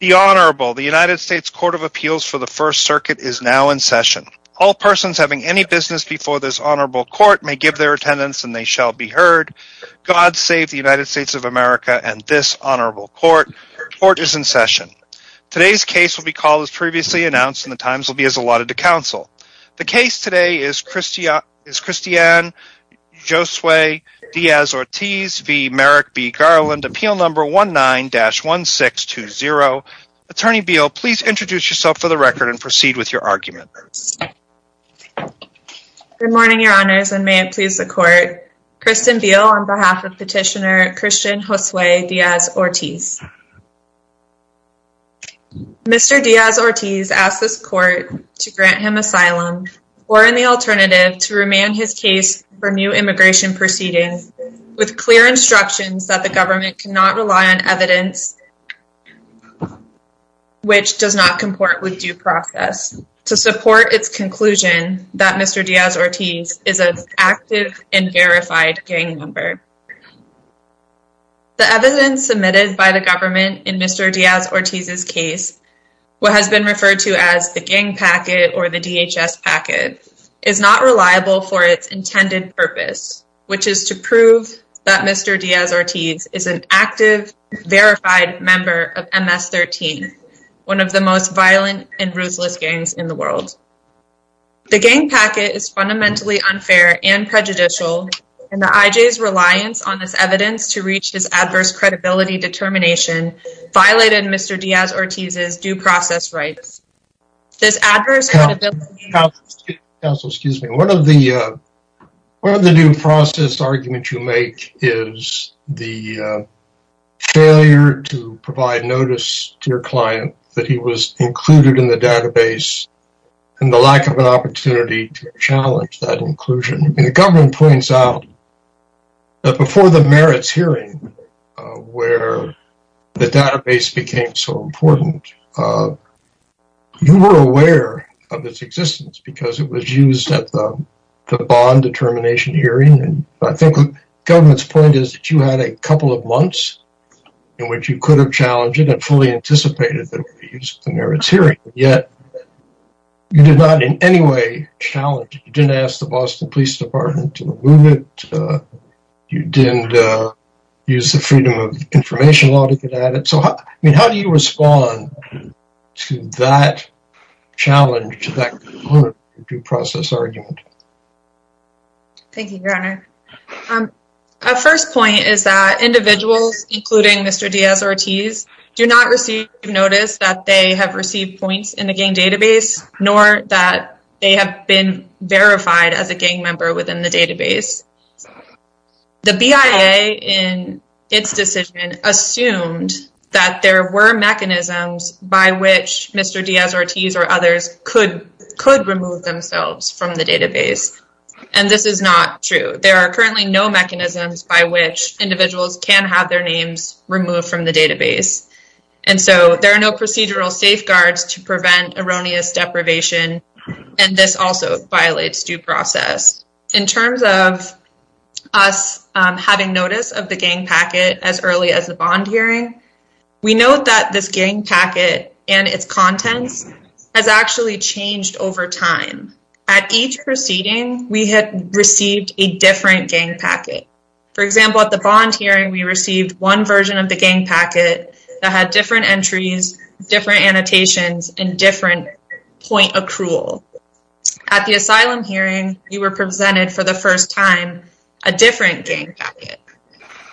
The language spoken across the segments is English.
The Honorable, the United States Court of Appeals for the First Circuit is now in session. All persons having any business before this Honorable Court may give their attendance and they shall be heard. God save the United States of America and this Honorable Court. Court is in session. Today's case will be called as previously announced and the times will be as allotted to counsel. The case today is Christiane Josue Diaz-Ortiz v. Merrick v. Garland, appeal number 19-1620. Attorney Beal, please introduce yourself for the record and proceed with your argument. Good morning, Your Honors, and may it please the Court, Kristen Beal on behalf of Petitioner Christian Josue Diaz-Ortiz. Mr. Diaz-Ortiz asked this Court to grant him asylum or, in the alternative, to remand his case for new immigration proceedings with clear instructions that the government cannot rely on evidence which does not comport with due process to support its conclusion that Mr. Diaz-Ortiz is an active and verified gang member. The evidence submitted by the government in Mr. Diaz-Ortiz's case, what has been referred to as the gang packet or the DHS packet, is not reliable for its intended purpose, which is to prove that Mr. Diaz-Ortiz is an active, verified member of MS-13, one of the most violent and ruthless gangs in the world. The gang packet is fundamentally unfair and prejudicial, and the IJ's reliance on this evidence to reach this adverse credibility determination violated Mr. Diaz-Ortiz's due process rights. This adverse credibility... Counsel, excuse me. One of the due process arguments you make is the failure to provide notice to your client that he was included in the database and the lack of an opportunity to challenge that inclusion. The government points out that before the merits hearing, where the database became so important, you were aware of its existence because it was used at the bond determination hearing. I think the government's point is that you had a couple of months in which you could have challenged it and fully anticipated that it would be used at the merits hearing, yet you did not in any way challenge it. You didn't ask the Boston Police Department to remove it. You didn't use the freedom of information law to get at it. So I mean, how do you respond to that challenge, to that component of the due process argument? Thank you, Your Honor. Our first point is that individuals, including Mr. Diaz-Ortiz, do not receive notice that they have received points in the gang database, nor that they have been verified as a gang member within the database. The BIA, in its decision, assumed that there were mechanisms by which Mr. Diaz-Ortiz or others could remove themselves from the database. And this is not true. There are currently no mechanisms by which individuals can have their names removed from the database. And so there are no procedural safeguards to prevent erroneous deprivation, and this also violates due process. In terms of us having notice of the gang packet as early as the bond hearing, we note that this gang packet and its contents has actually changed over time. At each proceeding, we had received a different gang packet. For example, at the bond hearing, we received one version of the gang packet that had different entries, different annotations, and different point accrual. At the asylum hearing, you were presented, for the first time, a different gang packet.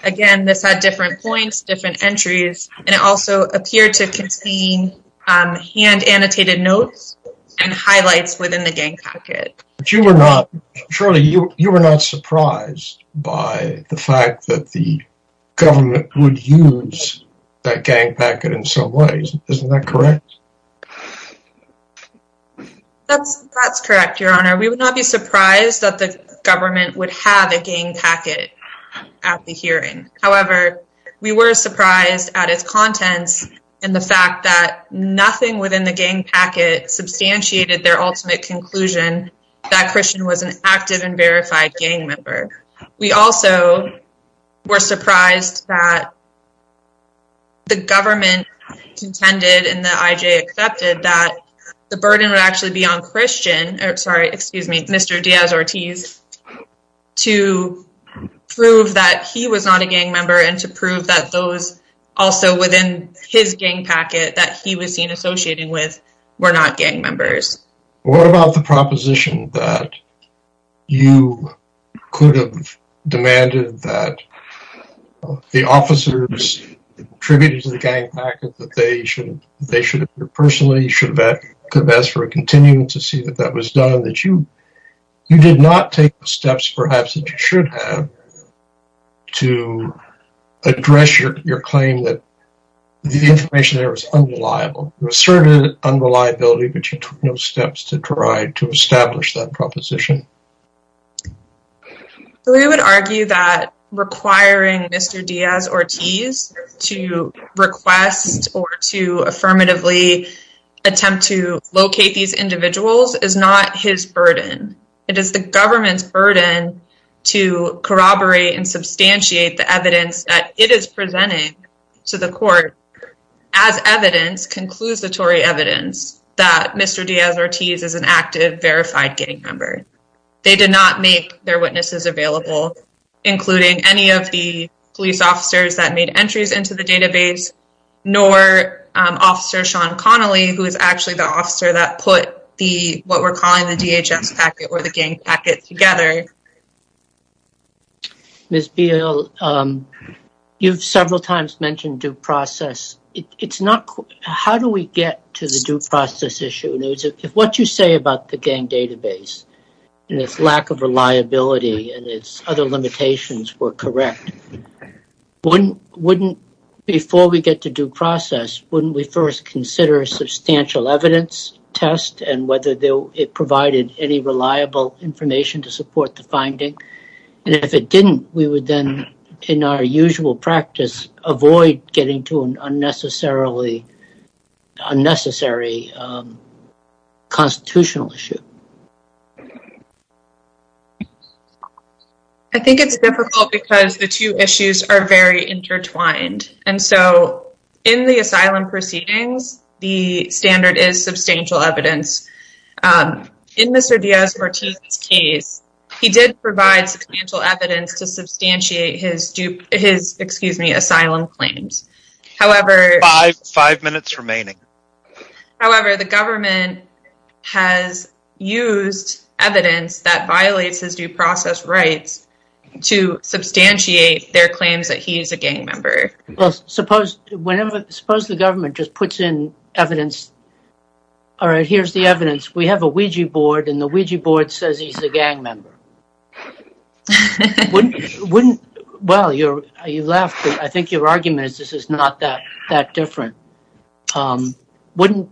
Again, this had different points, different entries, and it also appeared to contain hand-annotated notes and highlights within the gang packet. But you were not, Shirley, you were not surprised by the fact that the government would use that gang packet in some ways. Isn't that correct? That's correct, Your Honor. We would not be surprised that the government would have a gang packet at the hearing. However, we were surprised at its contents and the fact that nothing within the gang packet substantiated their ultimate conclusion that Christian was an active and verified gang member. We also were surprised that the government contended and the IJ accepted that the burden would actually be on Christian, or sorry, excuse me, Mr. Diaz-Ortiz, to prove that he was not a gang member and to prove that those also within his gang packet that he was seen associating with were not gang members. What about the proposition that you could have demanded that the officers attributed to the gang packet that they should, personally, should have asked for a continuum to see that that was done, that you did not take the steps, perhaps, that you should have to address your claim that the information there was unreliable. You asserted unreliability, but you took no steps to try to establish that proposition. We would argue that requiring Mr. Diaz-Ortiz to request or to affirmatively attempt to prove that he was not his burden, it is the government's burden to corroborate and substantiate the evidence that it is presenting to the court as evidence, conclusatory evidence, that Mr. Diaz-Ortiz is an active, verified gang member. They did not make their witnesses available, including any of the police officers that made entries into the database, nor Officer Sean Connolly, who is actually the officer that put what we are calling the DHS packet or the gang packet together. Ms. Beale, you have several times mentioned due process. How do we get to the due process issue? If what you say about the gang database and its lack of reliability and its other limitations were correct, wouldn't, before we get to due process, wouldn't we first consider a substantial evidence test and whether it provided any reliable information to support the finding, and if it didn't, we would then, in our usual practice, avoid getting to an unnecessary constitutional issue? I think it's difficult because the two issues are very intertwined, and so in the asylum proceedings, the standard is substantial evidence. In Mr. Diaz-Ortiz's case, he did provide substantial evidence to substantiate his asylum claims. Five minutes remaining. However, the government has used evidence that violates his due process rights to substantiate their claims that he is a gang member. Suppose the government just puts in evidence, all right, here's the evidence. We have a Ouija board, and the Ouija board says he's a gang member. Well, you laughed, but I think your argument is this is not that different. Wouldn't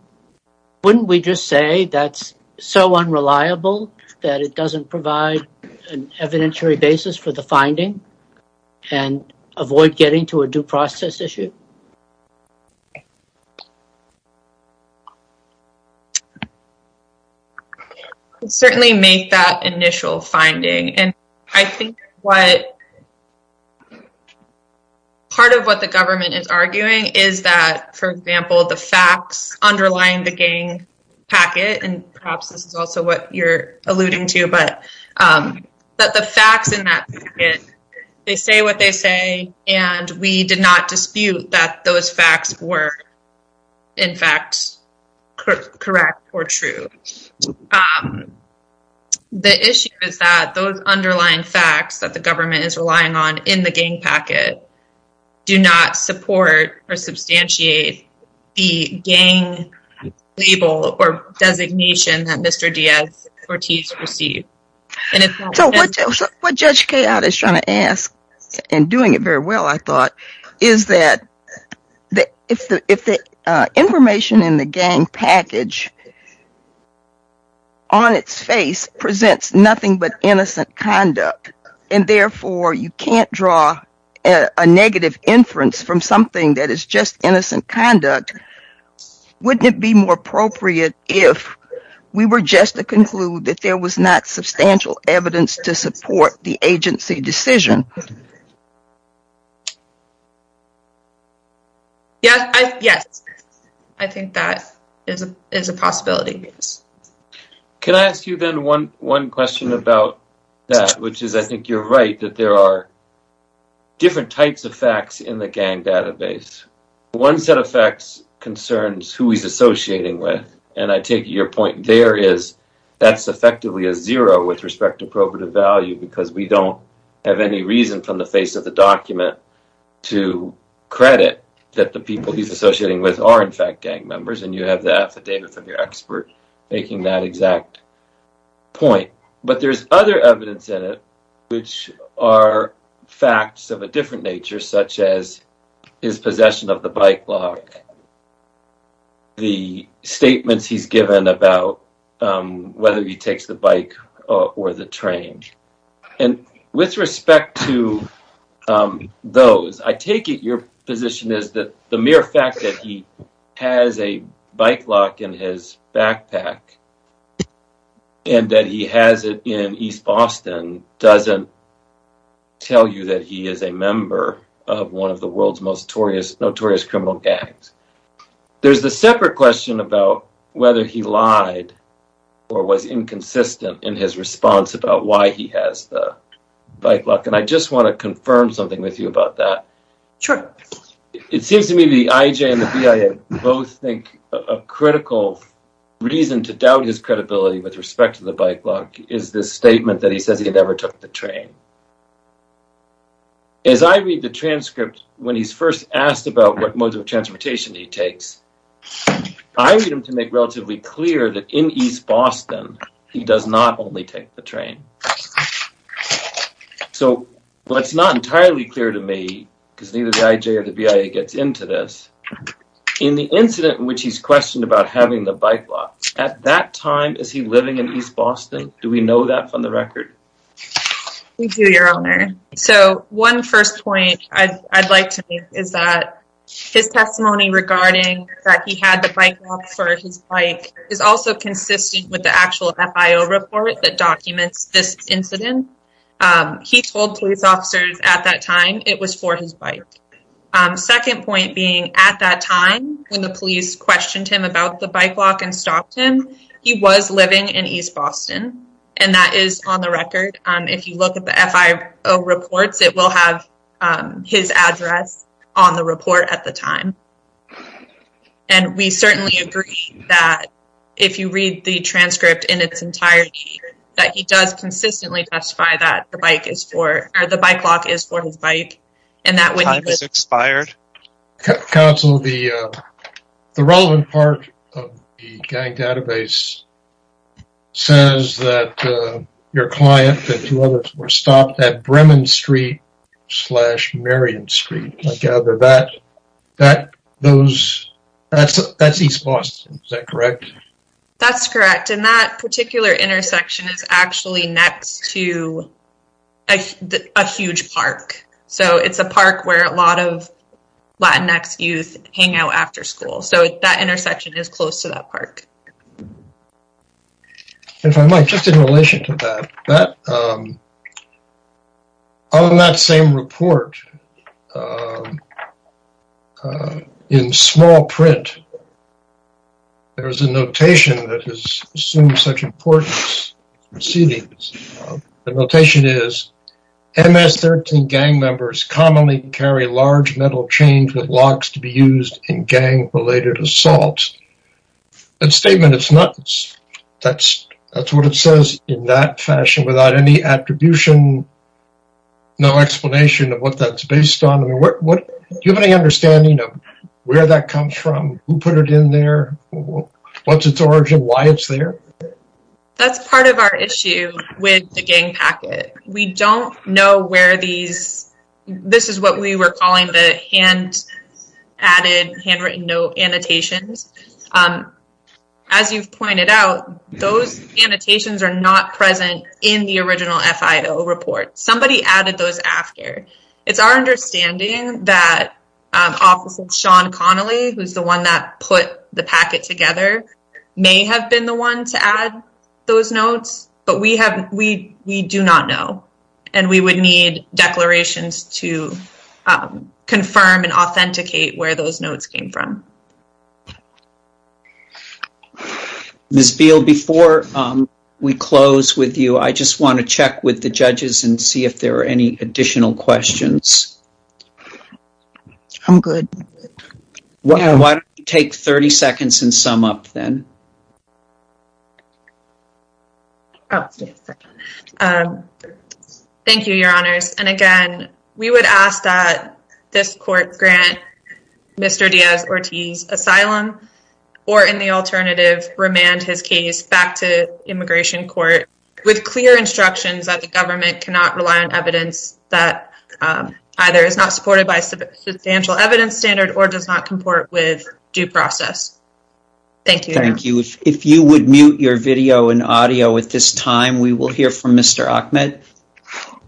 we just say that's so unreliable that it doesn't provide an evidentiary basis for the finding and avoid getting to a due process issue? I would certainly make that initial finding, and I think part of what the government is arguing is that, for example, the facts underlying the gang packet, and perhaps this is also what you're alluding to, but the facts in that packet, they say what they say, and we did not dispute that those facts were, in fact, correct or true. The issue is that those underlying facts that the government is relying on in the gang packet do not support or substantiate the gang label or designation that Mr. Diaz-Cortez received. What Judge Kayotte is trying to ask, and doing it very well, I thought, is that if the information in the gang package on its face presents nothing but innocent conduct, and therefore you can't draw a negative inference from something that is just innocent conduct, wouldn't it be more appropriate if we were just to conclude that there was not substantial evidence to support the agency decision? Yes, I think that is a possibility. Can I ask you, then, one question about that, which is I think you're right, that there are different types of facts in the gang database. One set of facts concerns who he's associating with, and I take your point there is that's effectively a zero with respect to probative value, because we don't have any reason from the face of the document to credit that the people he's associating with are, in fact, gang members, and you have the affidavit from your expert. Making that exact point, but there's other evidence in it which are facts of a different nature, such as his possession of the bike lock, the statements he's given about whether he takes the bike or the train, and with respect to those, I take it your position is that the mere fact that he has a bike lock in his backpack and that he has it in East Boston doesn't tell you that he is a member of one of the world's most notorious criminal gangs. There's the separate question about whether he lied or was inconsistent in his response about why he has the bike lock, and I just want to confirm something with you about that. It seems to me the IJ and the BIA both think a critical reason to doubt his credibility with respect to the bike lock is this statement that he says he never took the train. As I read the transcript when he's first asked about what modes of transportation he takes, I need him to make relatively clear that in East Boston he does not take the train. So, while it's not entirely clear to me, because neither the IJ or the BIA gets into this, in the incident in which he's questioned about having the bike lock, at that time is he living in East Boston? Do we know that from the record? We do, your honor. So, one first point I'd like to make is that his testimony regarding that he had the bike lock for his bike is also consistent with actual FIO report that documents this incident. He told police officers at that time it was for his bike. Second point being at that time when the police questioned him about the bike lock and stopped him, he was living in East Boston, and that is on the record. If you look at the FIO reports, it will have his address on the report at the time, and we certainly agree that if you read the transcript in its entirety, that he does consistently testify that the bike is for, or the bike lock is for his bike, and that when he was expired. Counsel, the relevant part of the gang database says that your client and two others were stopped at Bremen Street slash Marion Street. I gather that's East Boston, is that correct? That's correct, and that particular intersection is actually next to a huge park. So, it's a park where a lot of Latinx youth hang out after school, so that intersection is close to that park. If I might, just in relation to that, on that same report, in small print, there's a notation that assumes such importance. The notation is, MS-13 gang members commonly carry large metal chains with locks to be used in gang-related assaults. That statement, that's what it says in that fashion without any attribution, no explanation of what that's based on. Do you have any understanding of where that comes from? Who put it in there? What's its origin? Why it's there? That's part of our issue with the gang packet. We don't know where these, this is what we were calling the hand-added, handwritten note annotations. As you've pointed out, those annotations are not present in the original FIO report. Somebody added those after. It's our understanding that Officer Sean Connelly, who's the one that put the packet together, may have been the one to add those notes, but we do not know. We would need declarations to confirm and authenticate where those notes came from. Ms. Beal, before we close with you, I just want to check with the judges and see if there are any additional questions. I'm good. Why don't you take 30 seconds and sum up then? Okay. Thank you, Your Honors. Again, we would ask that this court grant Mr. Diaz-Ortiz asylum or, in the alternative, remand his case back to immigration court with clear instructions that the government cannot rely on evidence that either is not supported by a substantial evidence standard or does not comport with due process. Thank you. Thank you. If you would mute your video and audio at this time, we will hear from Mr. Ahmed.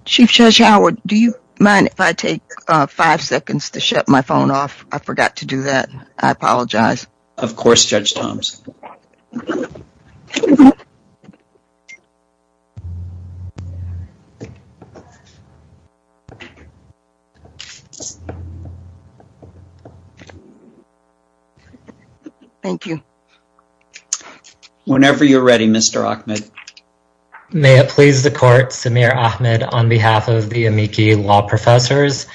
Chief Judge Howard, do you mind if I take five seconds to shut my phone off? I forgot to do that. I apologize. Of course, Judge Toms. Thank you. Whenever you're ready, Mr. Ahmed. May it please the court, Samir Ahmed on behalf of the amici law professors.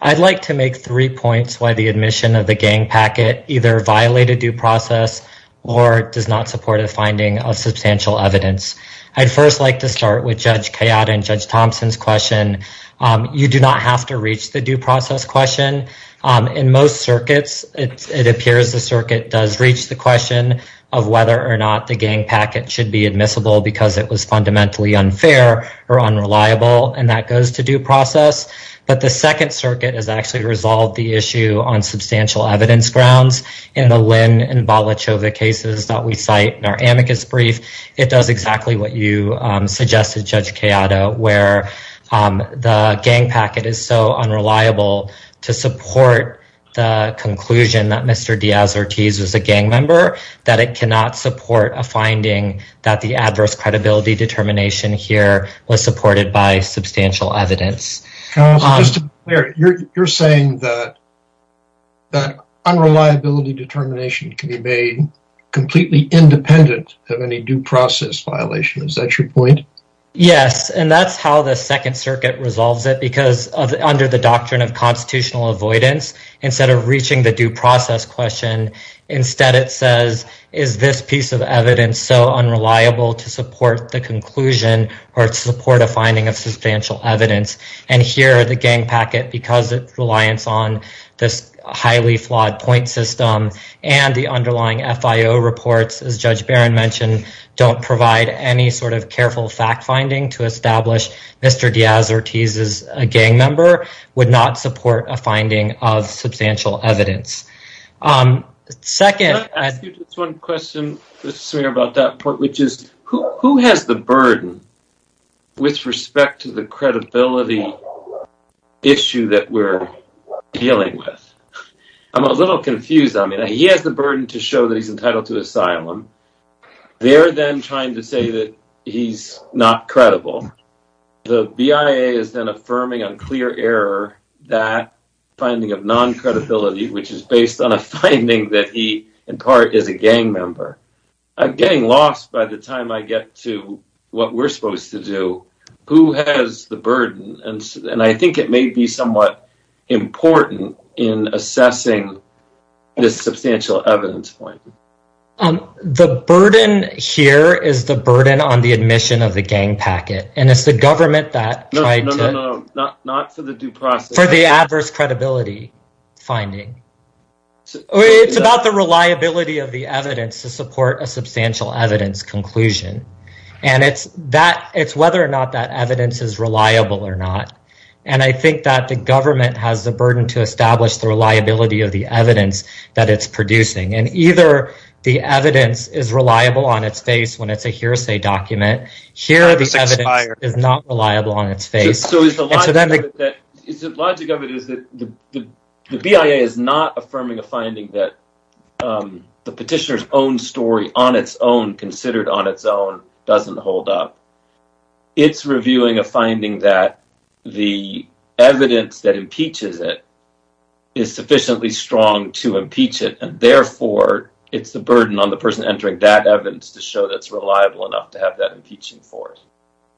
I'd like to make three points why the admission of the gang packet either violated due process or does not support a finding of substantial evidence. I'd first like to start with Judge Kayada and Judge Thompson's question. You do not have to reach the due process question. In most circuits, it appears the circuit does reach the question of whether or not the gang packet should be admissible because it was fundamentally unfair or unreliable, and that goes to due process. But the second circuit has actually resolved the issue on substantial evidence grounds in the Lin and Balachova cases that we cite in our amicus brief. It does exactly what you suggested, Judge Kayada, where the gang packet is so unreliable to support the conclusion that Mr. Diaz-Ortiz was a gang member that it cannot support a finding that the adverse credibility determination here was supported by substantial evidence. Just to be clear, you're saying that unreliability determination can be made completely independent of any due process violation. Is that your point? Yes, and that's how the second circuit resolves it because under the doctrine of constitutional avoidance, instead of reaching the due process question, instead it says is this piece of evidence so unreliable to support the conclusion or to support a finding of substantial evidence, and here the gang packet, because of its reliance on this highly flawed point system and the underlying FIO reports, as Judge Barron mentioned, don't provide any sort of careful fact-finding to establish Mr. Diaz-Ortiz is a gang member, would not support a finding of substantial evidence. Let me ask you just one question, Mr. Smear, about that point, which is who has the burden with respect to the credibility issue that we're dealing with? I'm a little confused. I mean, he has the burden to show that he's entitled to asylum. They're then trying to say that he's not credible. The BIA is then affirming on clear error that finding of non-credibility, which is based on a finding that he, in part, is a gang member. I'm getting lost by the time I get to what we're supposed to do. Who has the burden? And I think it may be somewhat important in assessing this substantial evidence point. The burden here is the burden on the admission of the finding. It's about the reliability of the evidence to support a substantial evidence conclusion. And it's whether or not that evidence is reliable or not. And I think that the government has the burden to establish the reliability of the evidence that it's producing. And either the evidence is reliable on its face when it's a hearsay document. Here, the evidence is not the BIA. The BIA is not affirming a finding that the petitioner's own story on its own, considered on its own, doesn't hold up. It's reviewing a finding that the evidence that impeaches it is sufficiently strong to impeach it. And therefore, it's the burden on the person entering that evidence to show that it's reliable enough to have that impeaching force.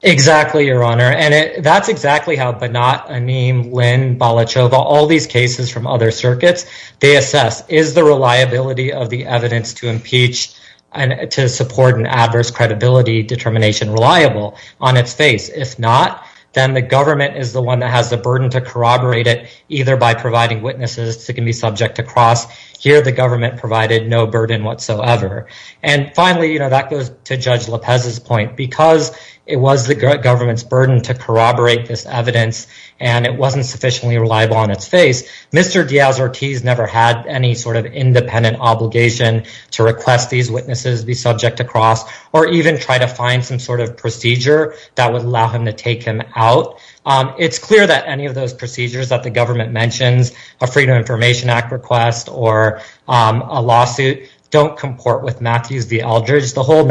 Exactly, Your Honor. And that's exactly how Banat, Aneem, Lynn, Balachova, all these cases from other circuits, they assess. Is the reliability of the evidence to impeach and to support an adverse credibility determination reliable on its face? If not, then the government is the one that has the burden to corroborate it either by providing witnesses that can be subject to cross. Here, the government provided no burden whatsoever. And finally, that goes to Judge Diaz-Ortiz. He was the government's burden to corroborate this evidence and it wasn't sufficiently reliable on its face. Mr. Diaz-Ortiz never had any sort of independent obligation to request these witnesses be subject to cross or even try to find some sort of procedure that would allow him to take him out. It's clear that any of those procedures that the government mentions, a Freedom of Information Act request or a lawsuit, don't comport with Matthews v. Eldridge. The whole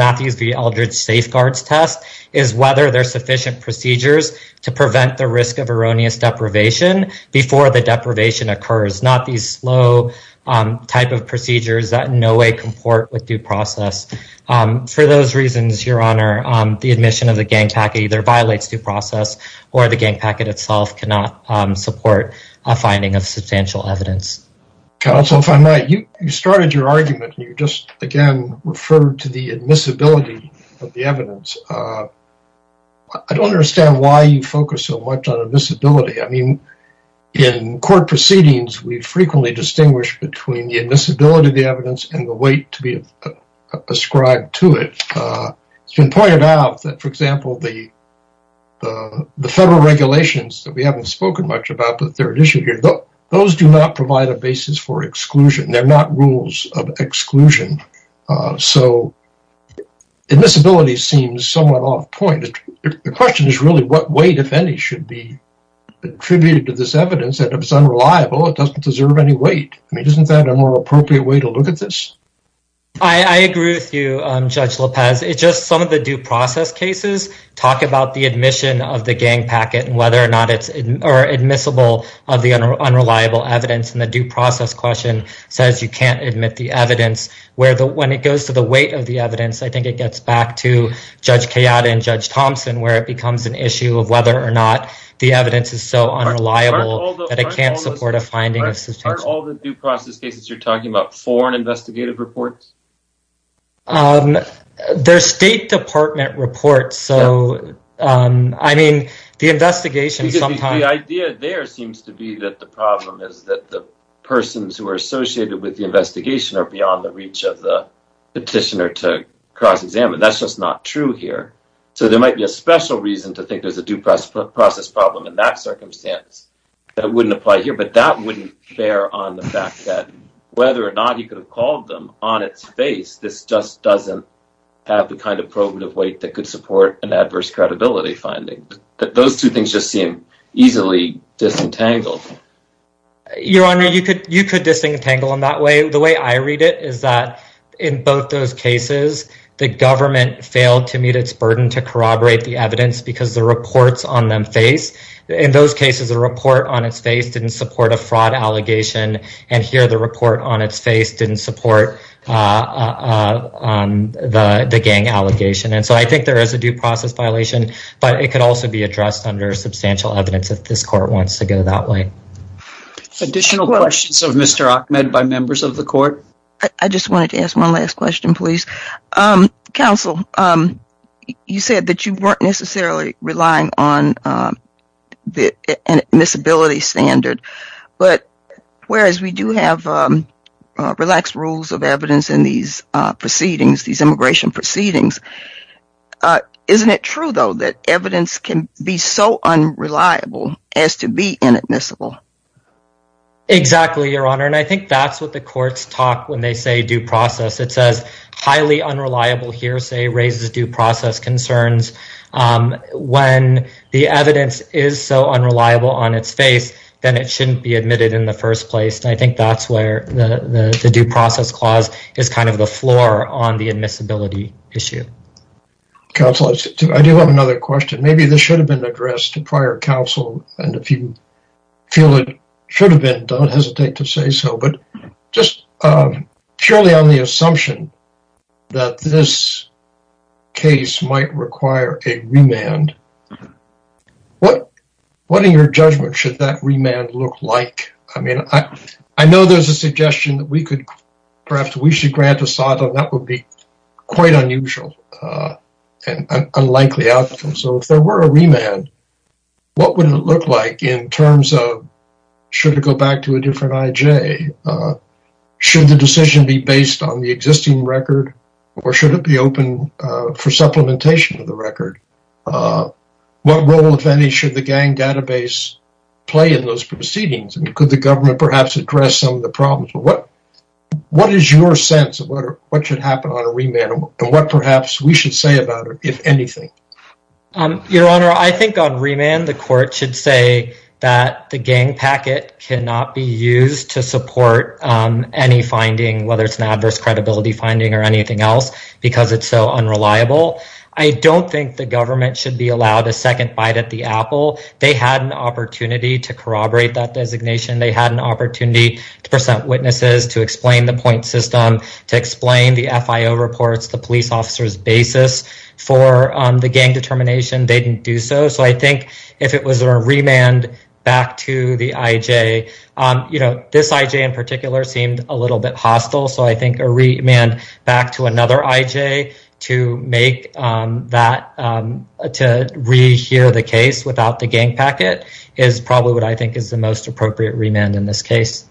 safeguards test is whether there's sufficient procedures to prevent the risk of erroneous deprivation before the deprivation occurs. Not these slow type of procedures that in no way comport with due process. For those reasons, your honor, the admission of the gang packet either violates due process or the gang packet itself cannot support a finding of substantial evidence. Counsel, if I might, you started your argument and you just again referred to the admissibility of the evidence. I don't understand why you focus so much on admissibility. I mean, in court proceedings, we frequently distinguish between the admissibility of the evidence and the weight to be ascribed to it. It's been pointed out that, for example, the federal regulations that we haven't spoken much about the third issue here, those do not provide a basis for exclusion. They're not rules of exclusion. So admissibility seems somewhat off point. The question is really what weight, if any, should be attributed to this evidence that if it's unreliable, it doesn't deserve any weight. I mean, isn't that a more appropriate way to look at this? I agree with you, Judge Lopez. It's just some of the due process cases talk about the admission of the gang packet and whether or not it's admissible of the unreliable evidence and the due process question says you can't admit the evidence. When it goes to the weight of the evidence, I think it gets back to Judge Kayada and Judge Thompson where it becomes an issue of whether or not the evidence is so unreliable that it can't support a finding of substantial evidence. Aren't all the due process cases you're talking about foreign investigative reports? They're State Department reports. So, I mean, the investigation sometimes... The idea there seems to be that the problem is that the persons who are associated with the investigation are beyond the reach of the petitioner to cross-examine. That's just not true here. So there might be a special reason to think there's a due process problem in that circumstance that wouldn't apply here. But that wouldn't bear on the fact that whether or not you could have called them on its face, this just doesn't have the kind of probative weight that could support an adverse credibility finding. Those two things just seem easily disentangled. Your Honor, you could disentangle them that way. The way I read it is that in both those cases, the government failed to meet its burden to corroborate the evidence because the reports on them face. In those cases, a report on its face didn't support a fraud allegation, and here the report on its face didn't support the gang allegation. And so I think there is a due process violation, but it could also be addressed under substantial evidence if this court wants to go that way. Additional questions of Mr. Ahmed by members of the court? I just wanted to ask one last question, please. Counsel, you said that you weren't necessarily relying on an admissibility standard, but whereas we do have relaxed rules of evidence in these proceedings, these immigration proceedings, isn't it true, though, that evidence can be so unreliable as to be inadmissible? Exactly, Your Honor, and I think that's what the courts talk when they say due process. It says highly unreliable hearsay raises due process concerns. When the evidence is so unreliable on its face, then it shouldn't be admitted in the first place, and I think that's where the due process clause is kind of the floor on the admissibility issue. Counsel, I do have another question. Maybe this should have been addressed to prior counsel, and if you feel it should have been, don't hesitate to say so, but just purely on the assumption that this might require a remand, what in your judgment should that remand look like? I mean, I know there's a suggestion that we could perhaps we should grant a SOTA. That would be quite unusual and unlikely outcome, so if there were a remand, what would it look like in terms of should it go back to a different IJ? Should the decision be based on the existing record, or should it be for supplementation of the record? What role, if any, should the gang database play in those proceedings, and could the government perhaps address some of the problems? What is your sense of what should happen on a remand, and what perhaps we should say about it, if anything? Your Honor, I think on remand, the court should say that the gang packet cannot be used to support any finding, whether it's an adverse credibility finding or anything else, because it's so unreliable. I don't think the government should be allowed a second bite at the apple. They had an opportunity to corroborate that designation. They had an opportunity to present witnesses, to explain the point system, to explain the FIO reports, the police officer's basis for the gang determination. They didn't do so, so I think if it was a remand back to the IJ, this IJ in particular seemed a little bit hostile, so I think a remand back to another IJ to rehear the case without the gang packet is probably what I think is the most appropriate remand in this case.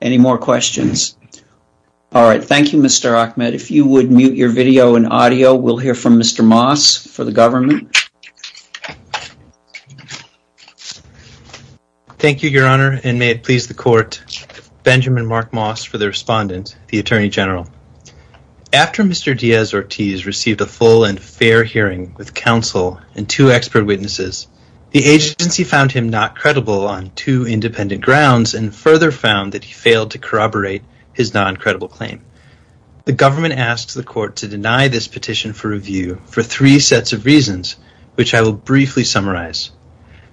Any more questions? All right. Thank you, Mr. Ahmed. If you would mute your video and audio, we'll hear from Mr. Moss for the government. Thank you, Your Honor, and may it please the court, Benjamin Mark Moss for the respondent, the Attorney General. After Mr. Diaz-Ortiz received a full and fair hearing with counsel and two expert witnesses, the agency found him not credible on two independent grounds and further found that he failed to corroborate his non-credible claim. The government asked the court to deny this petition for review for three sets of reasons, which I will briefly summarize.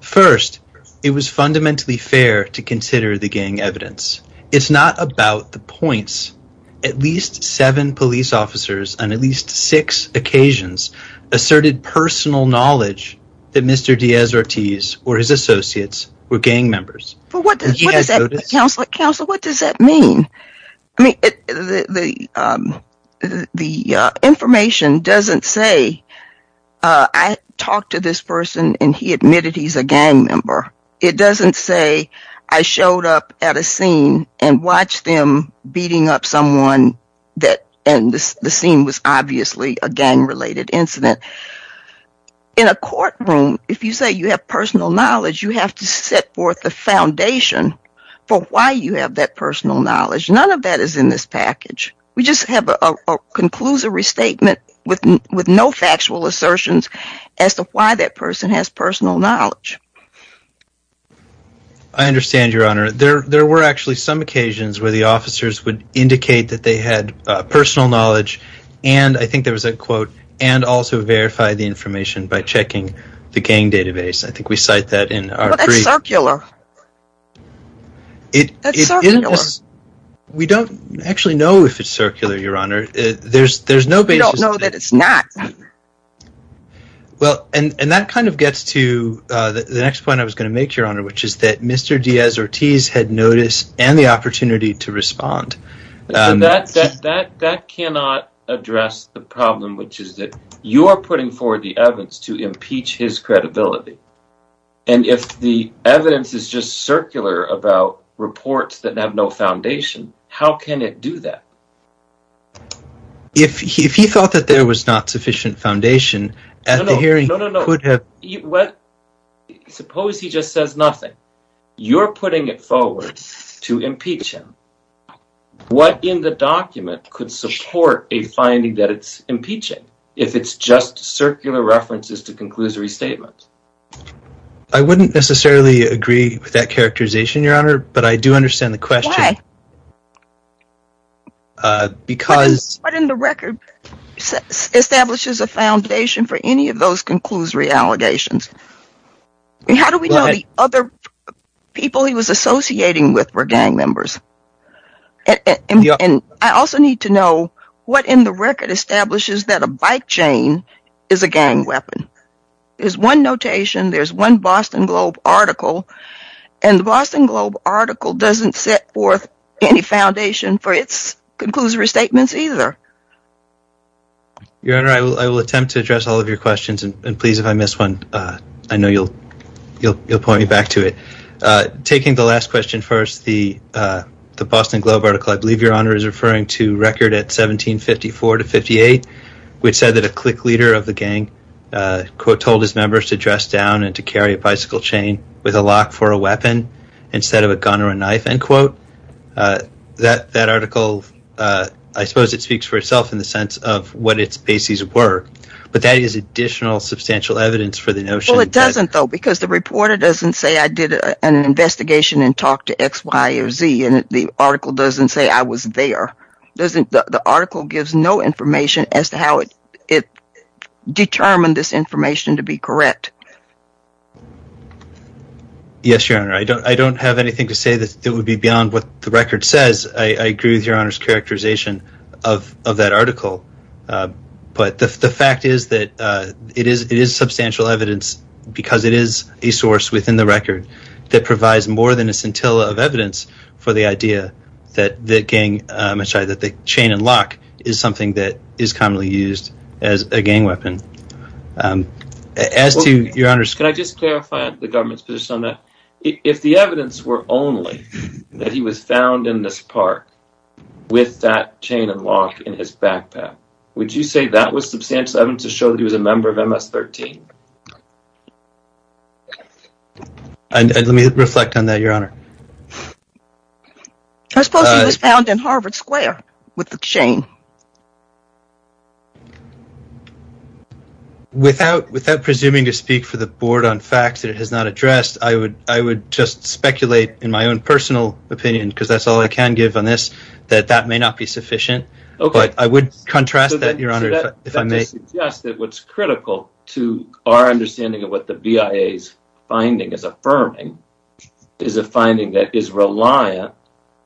First, it was fundamentally fair to consider the gang evidence. It's not about the points. At least seven police officers on at least six occasions asserted personal knowledge that Mr. Diaz-Ortiz or his associates were gang members. Counselor, what does that mean? I mean, the information doesn't say I talked to this person and he admitted he's a gang member. It doesn't say I showed up at a scene and watched them beating up someone and the scene was obviously a gang-related incident. In a courtroom, if you say you have personal knowledge, you have to set forth the foundation for why you have that personal knowledge. None of that is in this package. We just have a conclusory statement with no factual assertions as to why that person has personal knowledge. I understand, Your Honor. There were actually some occasions where the officers would indicate that they had personal knowledge and I think there was a quote, and also verify the information by checking the gang database. I think we cite that in our brief. That's circular. We don't actually know if it's circular, Your Honor. There's no basis. We don't know that it's not. Well, and that kind of gets to the next point I was going to make, Your Honor, which is that Mr. Diaz-Ortiz had notice and the opportunity to respond. That cannot address the problem, which is that you are putting forward the evidence to impeach his credibility, and if the evidence is just circular about reports that have no foundation, how can it do that? If he felt that there was not sufficient foundation at the hearing, he could have... Suppose he just says nothing. You're putting it forward to impeach him. What in the document could support a finding that it's impeaching, if it's just circular references to conclusory statements? I wouldn't necessarily agree with that characterization, Your Honor, but I do understand the question. Why? Because... What in the record establishes a foundation for any of those conclusory allegations? How do we know the other people he was associating with were gang members? And I also need to know what in the record establishes that a bike chain is a gang weapon. There's one notation, there's one Boston Globe article, and the Boston Globe article doesn't set forth any foundation for its conclusory statements either. Your Honor, I will attempt to address all of your questions, and please, if I miss one, I know you'll point me back to it. Taking the last question first, the Boston Globe article, I believe, Your Honor, is referring to record at 1754 to 58, which said that a clique leader of the gang told his members to dress down and to carry a bicycle chain with a lock for a weapon instead of a gun or a knife, end quote. That article, I suppose it speaks for itself in the sense of what its bases were, but that is additional substantial evidence for the notion... Well, it doesn't though, because the reporter doesn't say I did an investigation and talked to X, Y, or Z, and the article doesn't say I was there. The article gives no information as to how it determined this information to be correct. Yes, Your Honor, I don't have anything to say that would be beyond what the record says. I agree with Your Honor's characterization of that article, but the fact is that it is substantial evidence because it is a source within the record that provides more than a scintilla of evidence for the idea that the chain and lock is something that is commonly used as a gang weapon. As to Your Honor's... Can I just clarify the government's position on that? If the evidence were only that he was found in this park with that chain and lock in his backpack, would you say that was substantial evidence to show that he was a member of MS-13? And let me reflect on that, Your Honor. I suppose he was found in Harvard Square with the chain. Without presuming to speak for the board on facts that it has not addressed, I would just speculate in my own personal opinion, because that's all I can give on this, that that may not be sufficient, but I would contrast that, Your Honor, if I may. So that suggests that what's critical to our understanding of what the BIA's finding is affirming is a finding that is reliant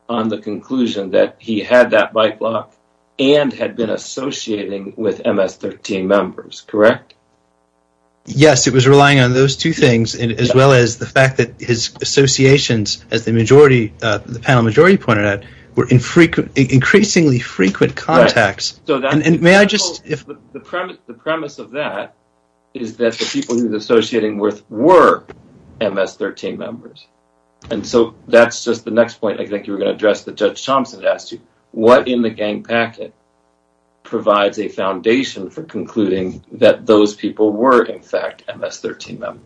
on the conclusion that he had that bike lock and had been associating with MS-13 members, correct? Yes, it was relying on those two things as well as the fact that his associations as the panel majority pointed out, were increasingly frequent contacts. The premise of that is that the people he was associating with were MS-13 members. And so that's just the next point I think you were going to address that Judge Thompson asked you. What in the gang packet provides a foundation for concluding that those people were in fact MS-13 members?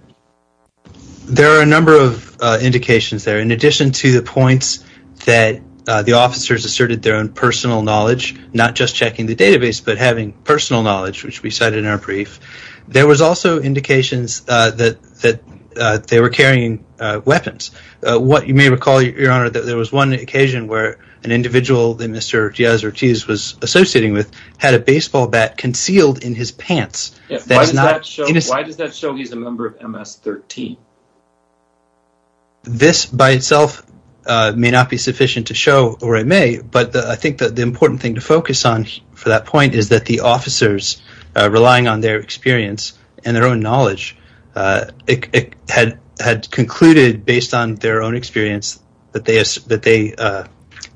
There are a number of indications there, in addition to the points that the officers asserted their own personal knowledge, not just checking the database, but having personal knowledge, which we cited in our brief. There was also indications that they were carrying weapons. What you may recall, Your Honor, that there was one occasion where an individual that Mr. Diaz-Ortiz was associating with had a baseball bat concealed in his pants. Why does that show he's a member of MS-13? This by itself may not be sufficient to show, or it may, but I think that the important thing to focus on for that point is that the officers relying on their experience and their own knowledge had concluded, based on their own experience that they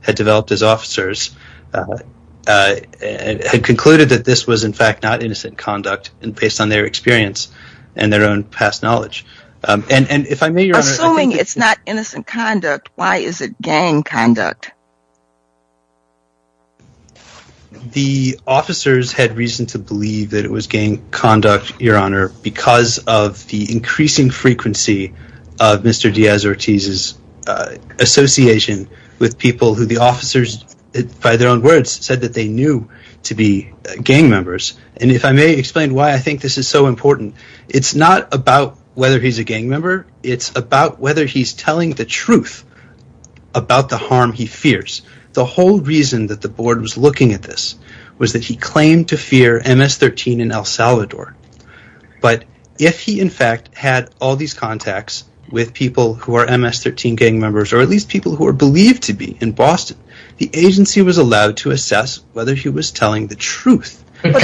had developed as officers, had concluded that this was in fact not innocent conduct, based on their experience and their own past knowledge. Assuming it's not innocent conduct, why is it gang conduct? The officers had reason to believe that it was gang conduct, Your Honor, because of the increasing frequency of Mr. Diaz-Ortiz's association with people who the officers, by their own words, said that they knew to be gang members. And if I may explain why I think this is so important, it's not about whether he's a gang member. It's about whether he's telling the truth about the harm he fears. The whole reason that the board was looking at this was that he claimed to fear MS-13 in El Salvador. But if he in fact had all these contacts with people who are MS-13 gang members, or at least people who are believed to be in Boston, the agency was allowed to assess whether he was telling the truth. To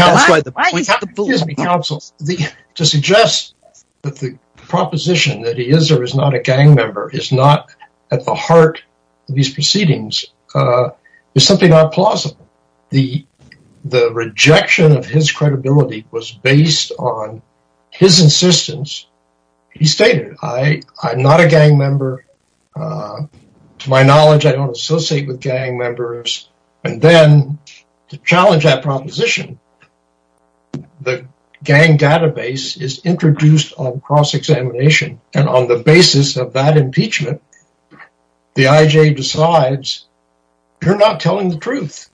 suggest that the proposition that he is or is not a gang member is not at the heart of these proceedings is simply not plausible. The rejection of his credibility was based on his insistence. He stated, I'm not a gang member. To my knowledge, I don't associate with gang members. And then to challenge that proposition, the gang database is introduced on cross-examination. And on the basis of that impeachment, the IJ decides you're not telling the truth.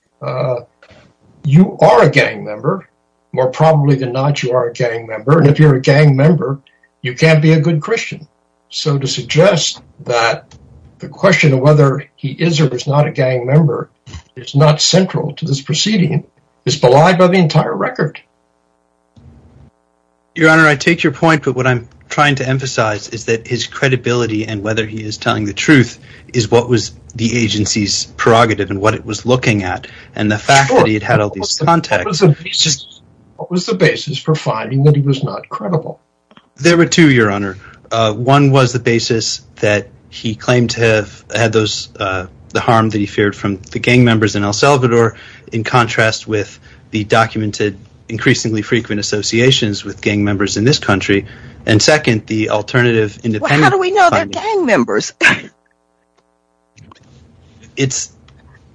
You are a gang member. More probably than not, you are a gang member. And if you're a gang member, you can't be a good Christian. So to suggest that the question of whether he is or is not a gang member is not central to this proceeding is belied by the entire record. Your Honor, I take your point. But what I'm trying to emphasize is that his credibility and whether he is telling the truth is what was the agency's prerogative and what it was looking at. And the fact that he had all these contacts... There were two, Your Honor. One was the basis that he claimed to have had those... the harm that he feared from the gang members in El Salvador in contrast with the documented increasingly frequent associations with gang members in this country. And second, the alternative independent... How do we know they're gang members? It's...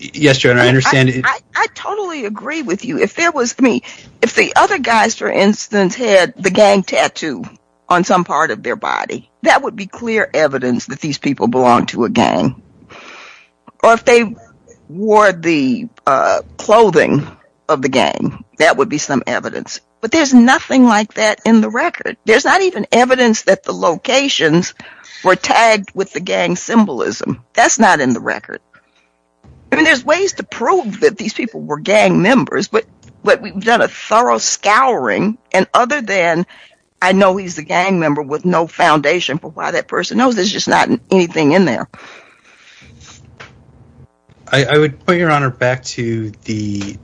Yes, Your Honor, I understand... I totally agree with you. If there was... If the other guys, for instance, had the gang tattoo on some part of their body, that would be clear evidence that these people belong to a gang. Or if they wore the clothing of the gang, that would be some evidence. But there's nothing like that in the record. There's not even evidence that the locations were tagged with the gang symbolism. That's not in the record. I mean, there's ways to prove that these people were gang members. But we've done a thorough scouring and other than... I know he's a gang member with no foundation for why that person knows. There's just not anything in there. I would put, Your Honor, back to the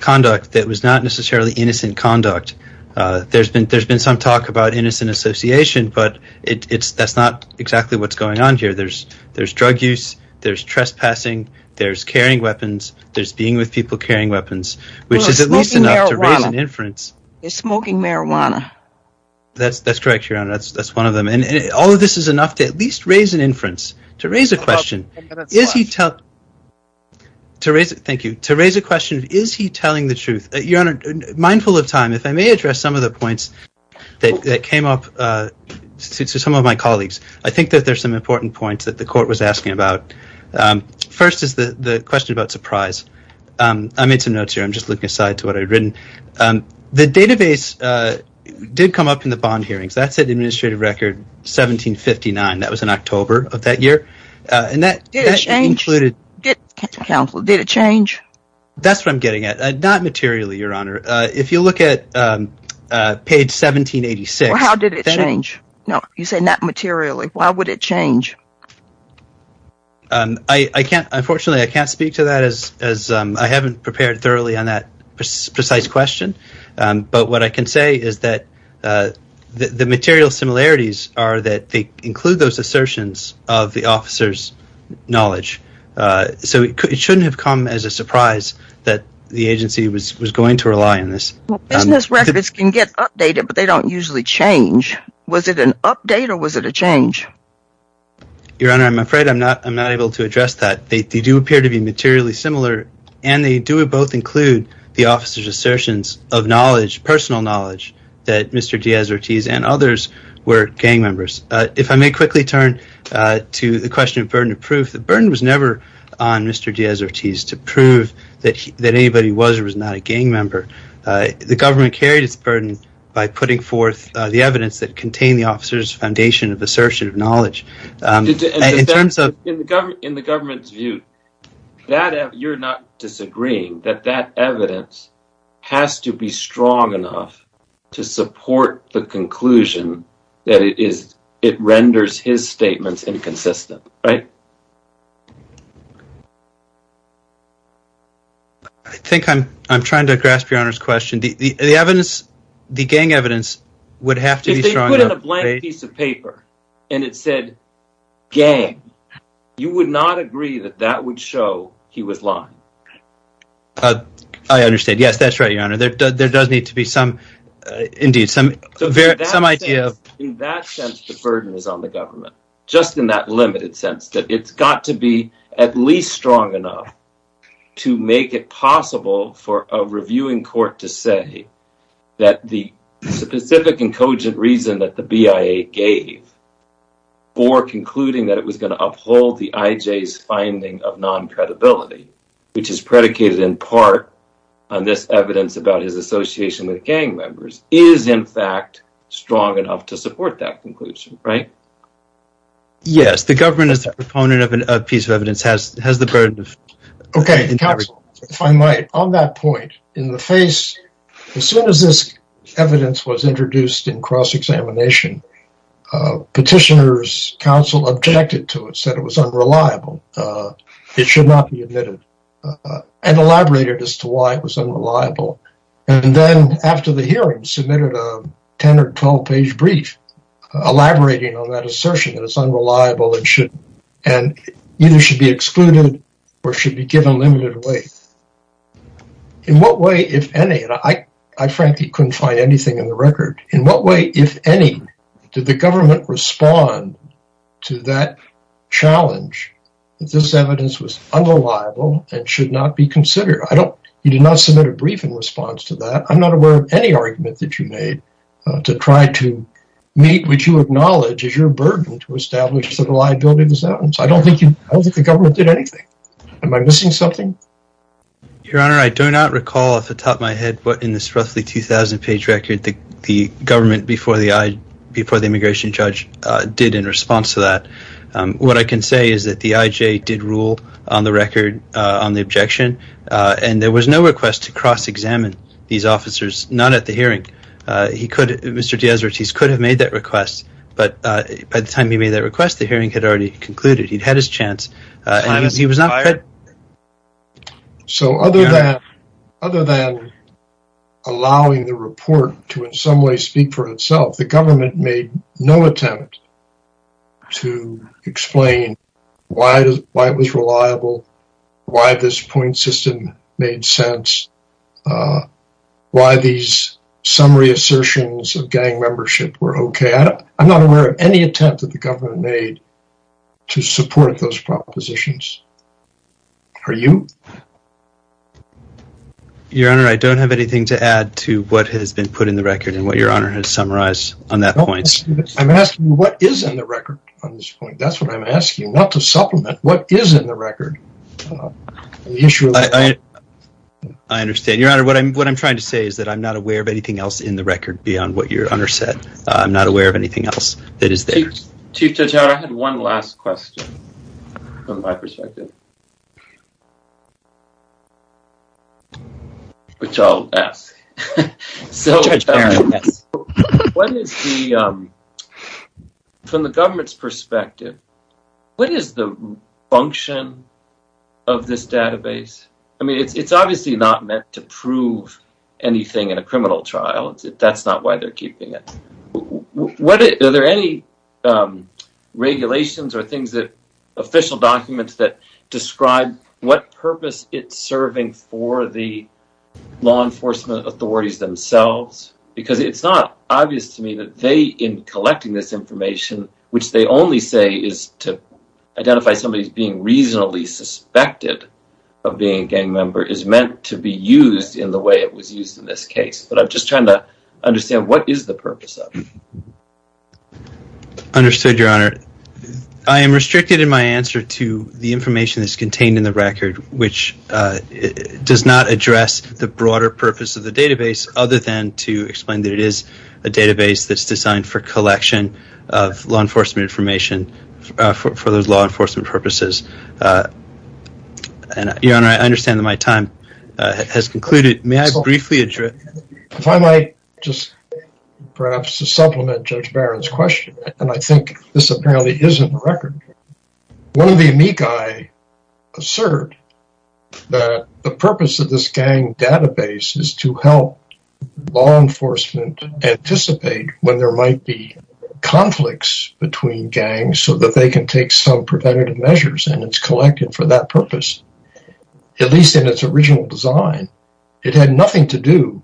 conduct that was not necessarily innocent conduct. There's been some talk about innocent association, but that's not exactly what's going on here. There's drug use, there's trespassing, there's carrying weapons, there's being with people carrying weapons. Which is at least enough to raise an inference. They're smoking marijuana. That's correct, Your Honor. That's one of them. And all of this is enough to at least raise an inference. To raise a question, is he tell... Thank you. To raise a question, is he telling the truth? Your Honor, mindful of time, if I may address some of the points that came up to some of my colleagues. I think that there's some important points that the court was asking about. First is the question about surprise. I made some notes here. Just looking aside to what I'd written. The database did come up in the bond hearings. That's an administrative record, 1759. That was in October of that year. And that included... Did it change? That's what I'm getting at. Not materially, Your Honor. If you look at page 1786... How did it change? No, you say not materially. Why would it change? Unfortunately, I can't speak to that as I haven't prepared thoroughly on that precise question. But what I can say is that the material similarities are that they include those assertions of the officer's knowledge. So it shouldn't have come as a surprise that the agency was going to rely on this. Business records can get updated, but they don't usually change. Was it an update or was it a change? Your Honor, I'm afraid I'm not able to address that. They do appear to be materially similar. And they do both include the officer's assertions of knowledge, personal knowledge, that Mr. Diaz-Ortiz and others were gang members. If I may quickly turn to the question of burden of proof. The burden was never on Mr. Diaz-Ortiz to prove that anybody was or was not a gang member. The government carried its burden by putting forth the evidence that contained the officer's foundation of assertion of knowledge. In the government's view, you're not disagreeing that that evidence has to be strong enough to support the conclusion that it renders his statements inconsistent, right? I think I'm trying to grasp Your Honor's question. The evidence, the gang evidence, would have to be strong enough. It's a piece of paper, and it said gang. You would not agree that that would show he was lying. I understand. Yes, that's right, Your Honor. There does need to be some, indeed, some idea of... In that sense, the burden is on the government. Just in that limited sense, that it's got to be at least strong enough to make it possible for a reviewing court to say that the specific and cogent reason that the BIA gave for concluding that it was going to uphold the IJ's finding of non-credibility, which is predicated in part on this evidence about his association with gang members, is, in fact, strong enough to support that conclusion, right? Yes, the government, as a proponent of a piece of evidence, has the burden of... Okay, counsel, if I might, on that point, in the face... Evidence was introduced in cross-examination. Petitioner's counsel objected to it, said it was unreliable. It should not be admitted, and elaborated as to why it was unreliable. Then, after the hearing, submitted a 10- or 12-page brief elaborating on that assertion that it's unreliable and either should be excluded or should be given limited weight. In what way, if any, and I frankly couldn't find anything in the record, in what way, if any, did the government respond to that challenge that this evidence was unreliable and should not be considered? I don't... You did not submit a brief in response to that. I'm not aware of any argument that you made to try to meet what you acknowledge is your burden to establish that a liability was out. I don't think the government did anything. Am I missing something? Your Honor, I do not recall off the top of my head what in this roughly 2,000-page record the government before the immigration judge did in response to that. What I can say is that the IJ did rule on the record, on the objection, and there was no request to cross-examine these officers, not at the hearing. He could... Mr. Diaz-Ortiz could have made that request, but by the time he made that request, the hearing had already concluded. He'd had his chance, and he was not... So other than allowing the report to in some way speak for itself, the government made no attempt to explain why it was reliable, why this point system made sense, why these summary assertions of gang membership were okay. I'm not aware of any attempt that the government made to support those propositions. Are you? Your Honor, I don't have anything to add to what has been put in the record and what Your Honor has summarized on that point. I'm asking what is in the record on this point. That's what I'm asking, not to supplement. What is in the record on the issue of... I understand. Your Honor, what I'm trying to say is that I'm not aware of anything else in the record beyond what Your Honor said. I'm not aware of anything else that is there. Chief Judge Howard, I had one last question from my perspective. Which I'll ask. Judge Howard, yes. From the government's perspective, what is the function of this database? I mean, it's obviously not meant to prove anything in a criminal trial. That's not why they're keeping it. Are there any regulations or things that... official documents that describe what purpose it's serving for the law enforcement authorities themselves? Because it's not obvious to me that they, in collecting this information, which they only say is to identify somebody as being reasonably suspected of being a gang member, is meant to be used in the way it was used in this case. I'm just trying to understand, what is the purpose of it? Understood, Your Honor. I am restricted in my answer to the information that's contained in the record, which does not address the broader purpose of the database, other than to explain that it is a database that's designed for collection of law enforcement information for those law enforcement purposes. Your Honor, I understand that my time has concluded. May I briefly address... If I might just perhaps supplement Judge Barron's question, and I think this apparently is in the record. One of the amici assert that the purpose of this gang database is to help law enforcement anticipate when there might be conflicts between gangs so that they can take some preventative measures, and it's collected for that purpose. At least in its original design, it had nothing to do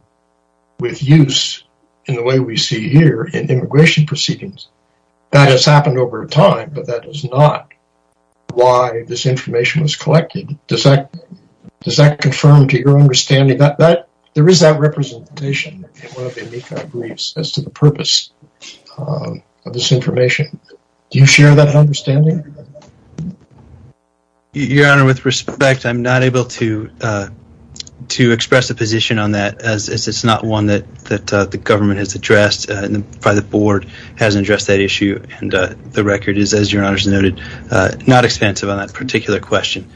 with use in the way we see here in immigration proceedings. That has happened over time, but that is not why this information was collected. Does that confirm to your understanding that there is that representation in one of the amici briefs as to the purpose of this information? Do you share that understanding? Your Honor, with respect, I'm not able to express a position on that as it's not one that the government has addressed, and probably the board hasn't addressed that issue, and the record is, as Your Honor has noted, not expansive on that particular question.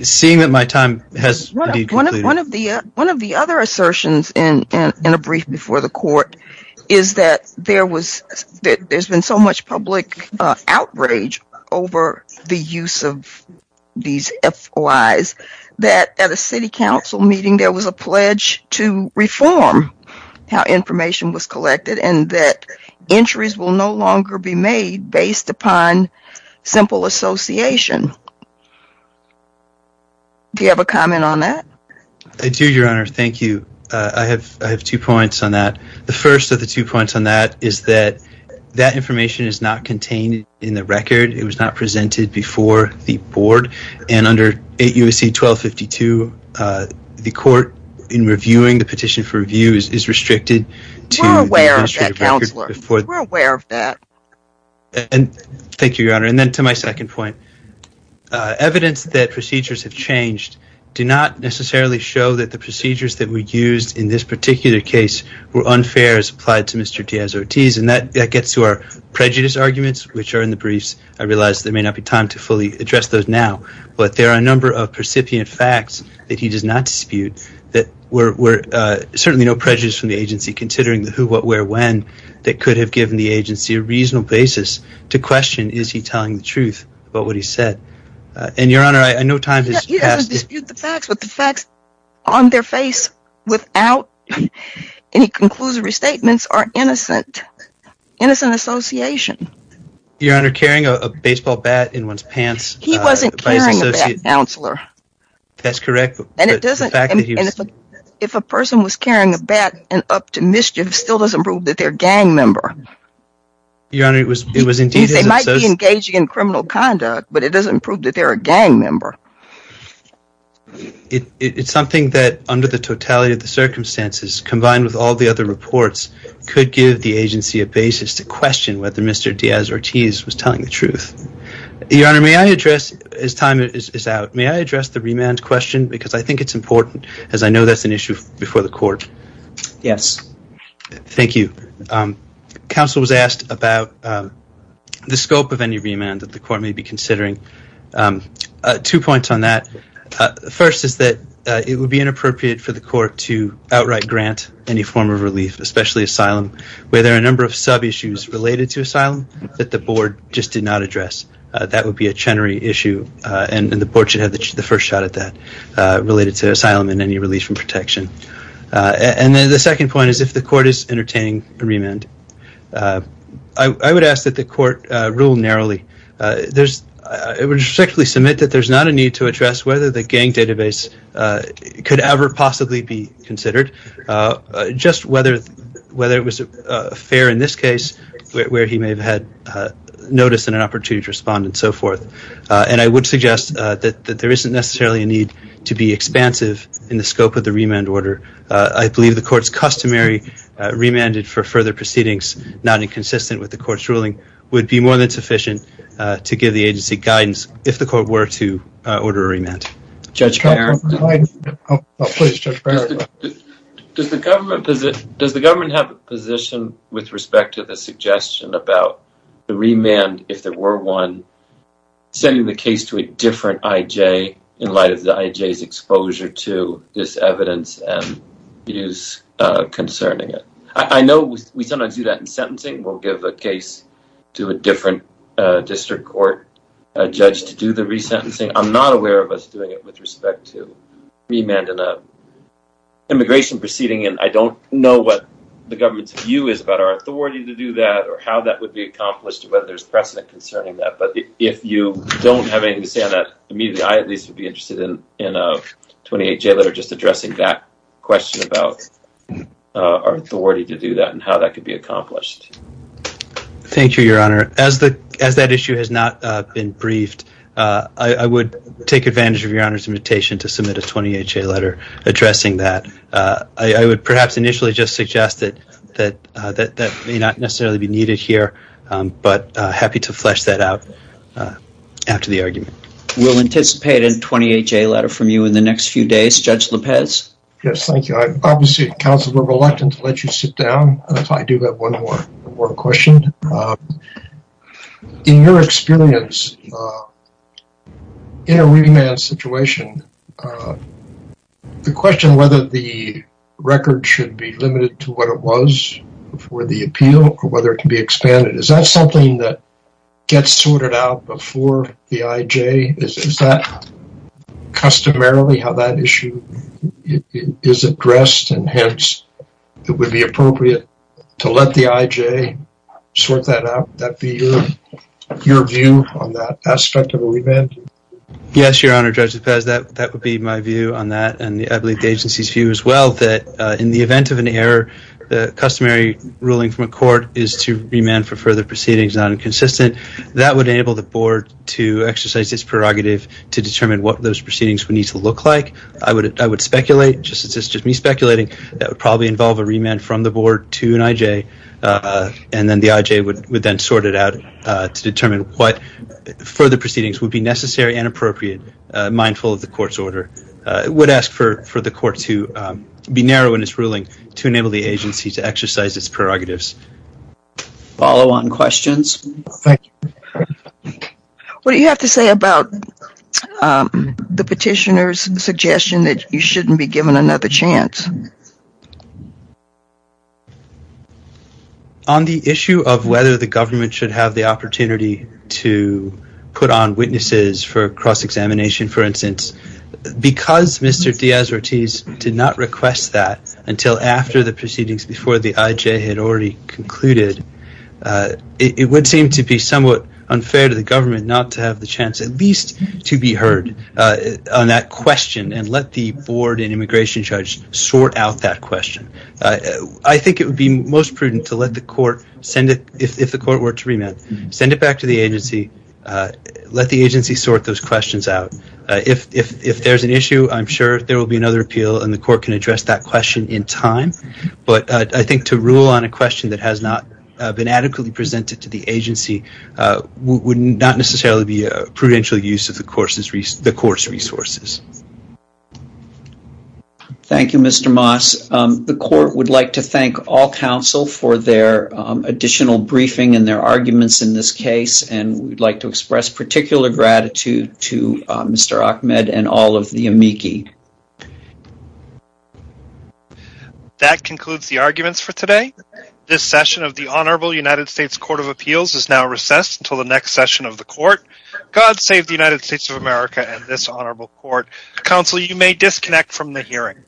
Seeing that my time has concluded... One of the other assertions in a brief before the court is that there's been so much public outrage over the use of these FOIs that at a city council meeting there was a pledge to reform how information was collected and that entries will no longer be made based upon simple association. Do you have a comment on that? I do, Your Honor. Thank you. I have two points on that. The first of the two points on that is that that information is not contained in the record. It was not presented before the board, and under 8 U.S.C. 1252, the court in reviewing the petition for review is restricted to... We're aware of that, Counselor. We're aware of that. Thank you, Your Honor, and then to my second point. Evidence that procedures have changed do not necessarily show that the procedures that were used in this particular case were unfair as applied to Mr. Diaz-Ortiz, and that gets to our prejudice arguments, which are in the briefs. I realize there may not be time to fully address those now, but there are a number of percipient facts that he does not dispute that were certainly no prejudice from the agency, considering the who, what, where, when that could have given the agency a reasonable basis to question is he telling the truth about what he said. And, Your Honor, I know time has passed... The facts, but the facts on their face without any conclusory statements are innocent. Innocent association. Your Honor, carrying a baseball bat in one's pants... He wasn't carrying a bat, Counselor. That's correct, but the fact that he was... If a person was carrying a bat and up to mischief still doesn't prove that they're a gang member. Your Honor, it was indeed... They might be engaging in criminal conduct, but it doesn't prove that they're a gang member. It's something that, under the totality of the circumstances, combined with all the other reports, could give the agency a basis to question whether Mr. Diaz-Ortiz was telling the truth. Your Honor, may I address... As time is out, may I address the remand question? Because I think it's important, as I know that's an issue before the court. Yes. Thank you. Counsel was asked about the scope of any remand that the court may be considering. Um, two points on that. First is that it would be inappropriate for the court to outright grant any form of relief, especially asylum, where there are a number of sub-issues related to asylum that the board just did not address. That would be a Chenery issue, and the board should have the first shot at that, related to asylum and any relief from protection. And then the second point is, if the court is entertaining a remand, I would ask that the court rule narrowly. There's, I would respectfully submit that there's not a need to address whether the gang database could ever possibly be considered. Just whether it was fair in this case, where he may have had notice and an opportunity to respond and so forth. And I would suggest that there isn't necessarily a need to be expansive in the scope of the remand order. I believe the court's customary remanded for further proceedings, not inconsistent with the court's ruling, would be more than sufficient to give the agency guidance, if the court were to order a remand. Judge Baird. Oh, please, Judge Baird. Does the government, does the government have a position with respect to the suggestion about the remand, if there were one, sending the case to a different IJ in light of the IJ's exposure to this evidence and views concerning it? I know we sometimes do that in sentencing. We'll give a case to a different district court judge to do the resentencing. I'm not aware of us doing it with respect to remand in an immigration proceeding, and I don't know what the government's view is about our authority to do that or how that would be accomplished and whether there's precedent concerning that. But if you don't have anything to say on that, immediately, I at least would be interested in a 28-J letter just addressing that question about our authority to do that and how that could be accomplished. Thank you, Your Honor. As that issue has not been briefed, I would take advantage of Your Honor's invitation to submit a 28-J letter addressing that. I would perhaps initially just suggest that that may not necessarily be needed here, but happy to flesh that out after the argument. We'll anticipate a 28-J letter from you in the next few days. Judge Lopez. Yes, thank you. Obviously, counsel, we're reluctant to let you sit down if I do have one more question. In your experience, in a remand situation, the question whether the record should be limited to what it was before the appeal or whether it can be expanded, is that something that gets sorted out before the IJ? Is that customarily how that issue is addressed, and hence, it would be appropriate to let the IJ sort that out? Would that be your view on that aspect of a remand? Yes, Your Honor. Judge Lopez, that would be my view on that, and I believe the agency's view as well, that in the event of an error, the customary ruling from a court is to remand for further proceedings not inconsistent. That would enable the board to exercise its prerogative to determine what those proceedings would need to look like. I would speculate, just me speculating, that would probably involve a remand from the board to an IJ, and then the IJ would then sort it out to determine what further proceedings would be necessary and appropriate, mindful of the court's order. I would ask for the court to be narrow in its ruling to enable the agency to exercise its prerogatives. Follow-on questions? Thank you. What do you have to say about the petitioner's suggestion that you shouldn't be given another chance? On the issue of whether the government should have the opportunity to put on witnesses for cross-examination, for instance, because Mr. Diaz-Ortiz did not request that until after the proceedings before the IJ had already concluded, it would seem to be somewhat unfair to the government not to have the chance at least to be heard on that question and let the board and immigration judge sort out that question. I think it would be most prudent to let the court send it, if the court were to remand, send it back to the agency, let the agency sort those questions out. If there's an issue, I'm sure there will be another appeal and the court can address that question in time, but I think to rule on a question that has not been adequately presented to the agency would not necessarily be a prudential use of the court's resources. Thank you, Mr. Moss. The court would like to thank all counsel for their additional briefing and their arguments in this case, and we'd like to express particular gratitude to Mr. Ahmed and all of the amici. That concludes the arguments for today. This session of the Honorable United States Court of Appeals is now recessed until the next session of the court. God save the United States of America and this honorable court. Counsel, you may disconnect from the hearing.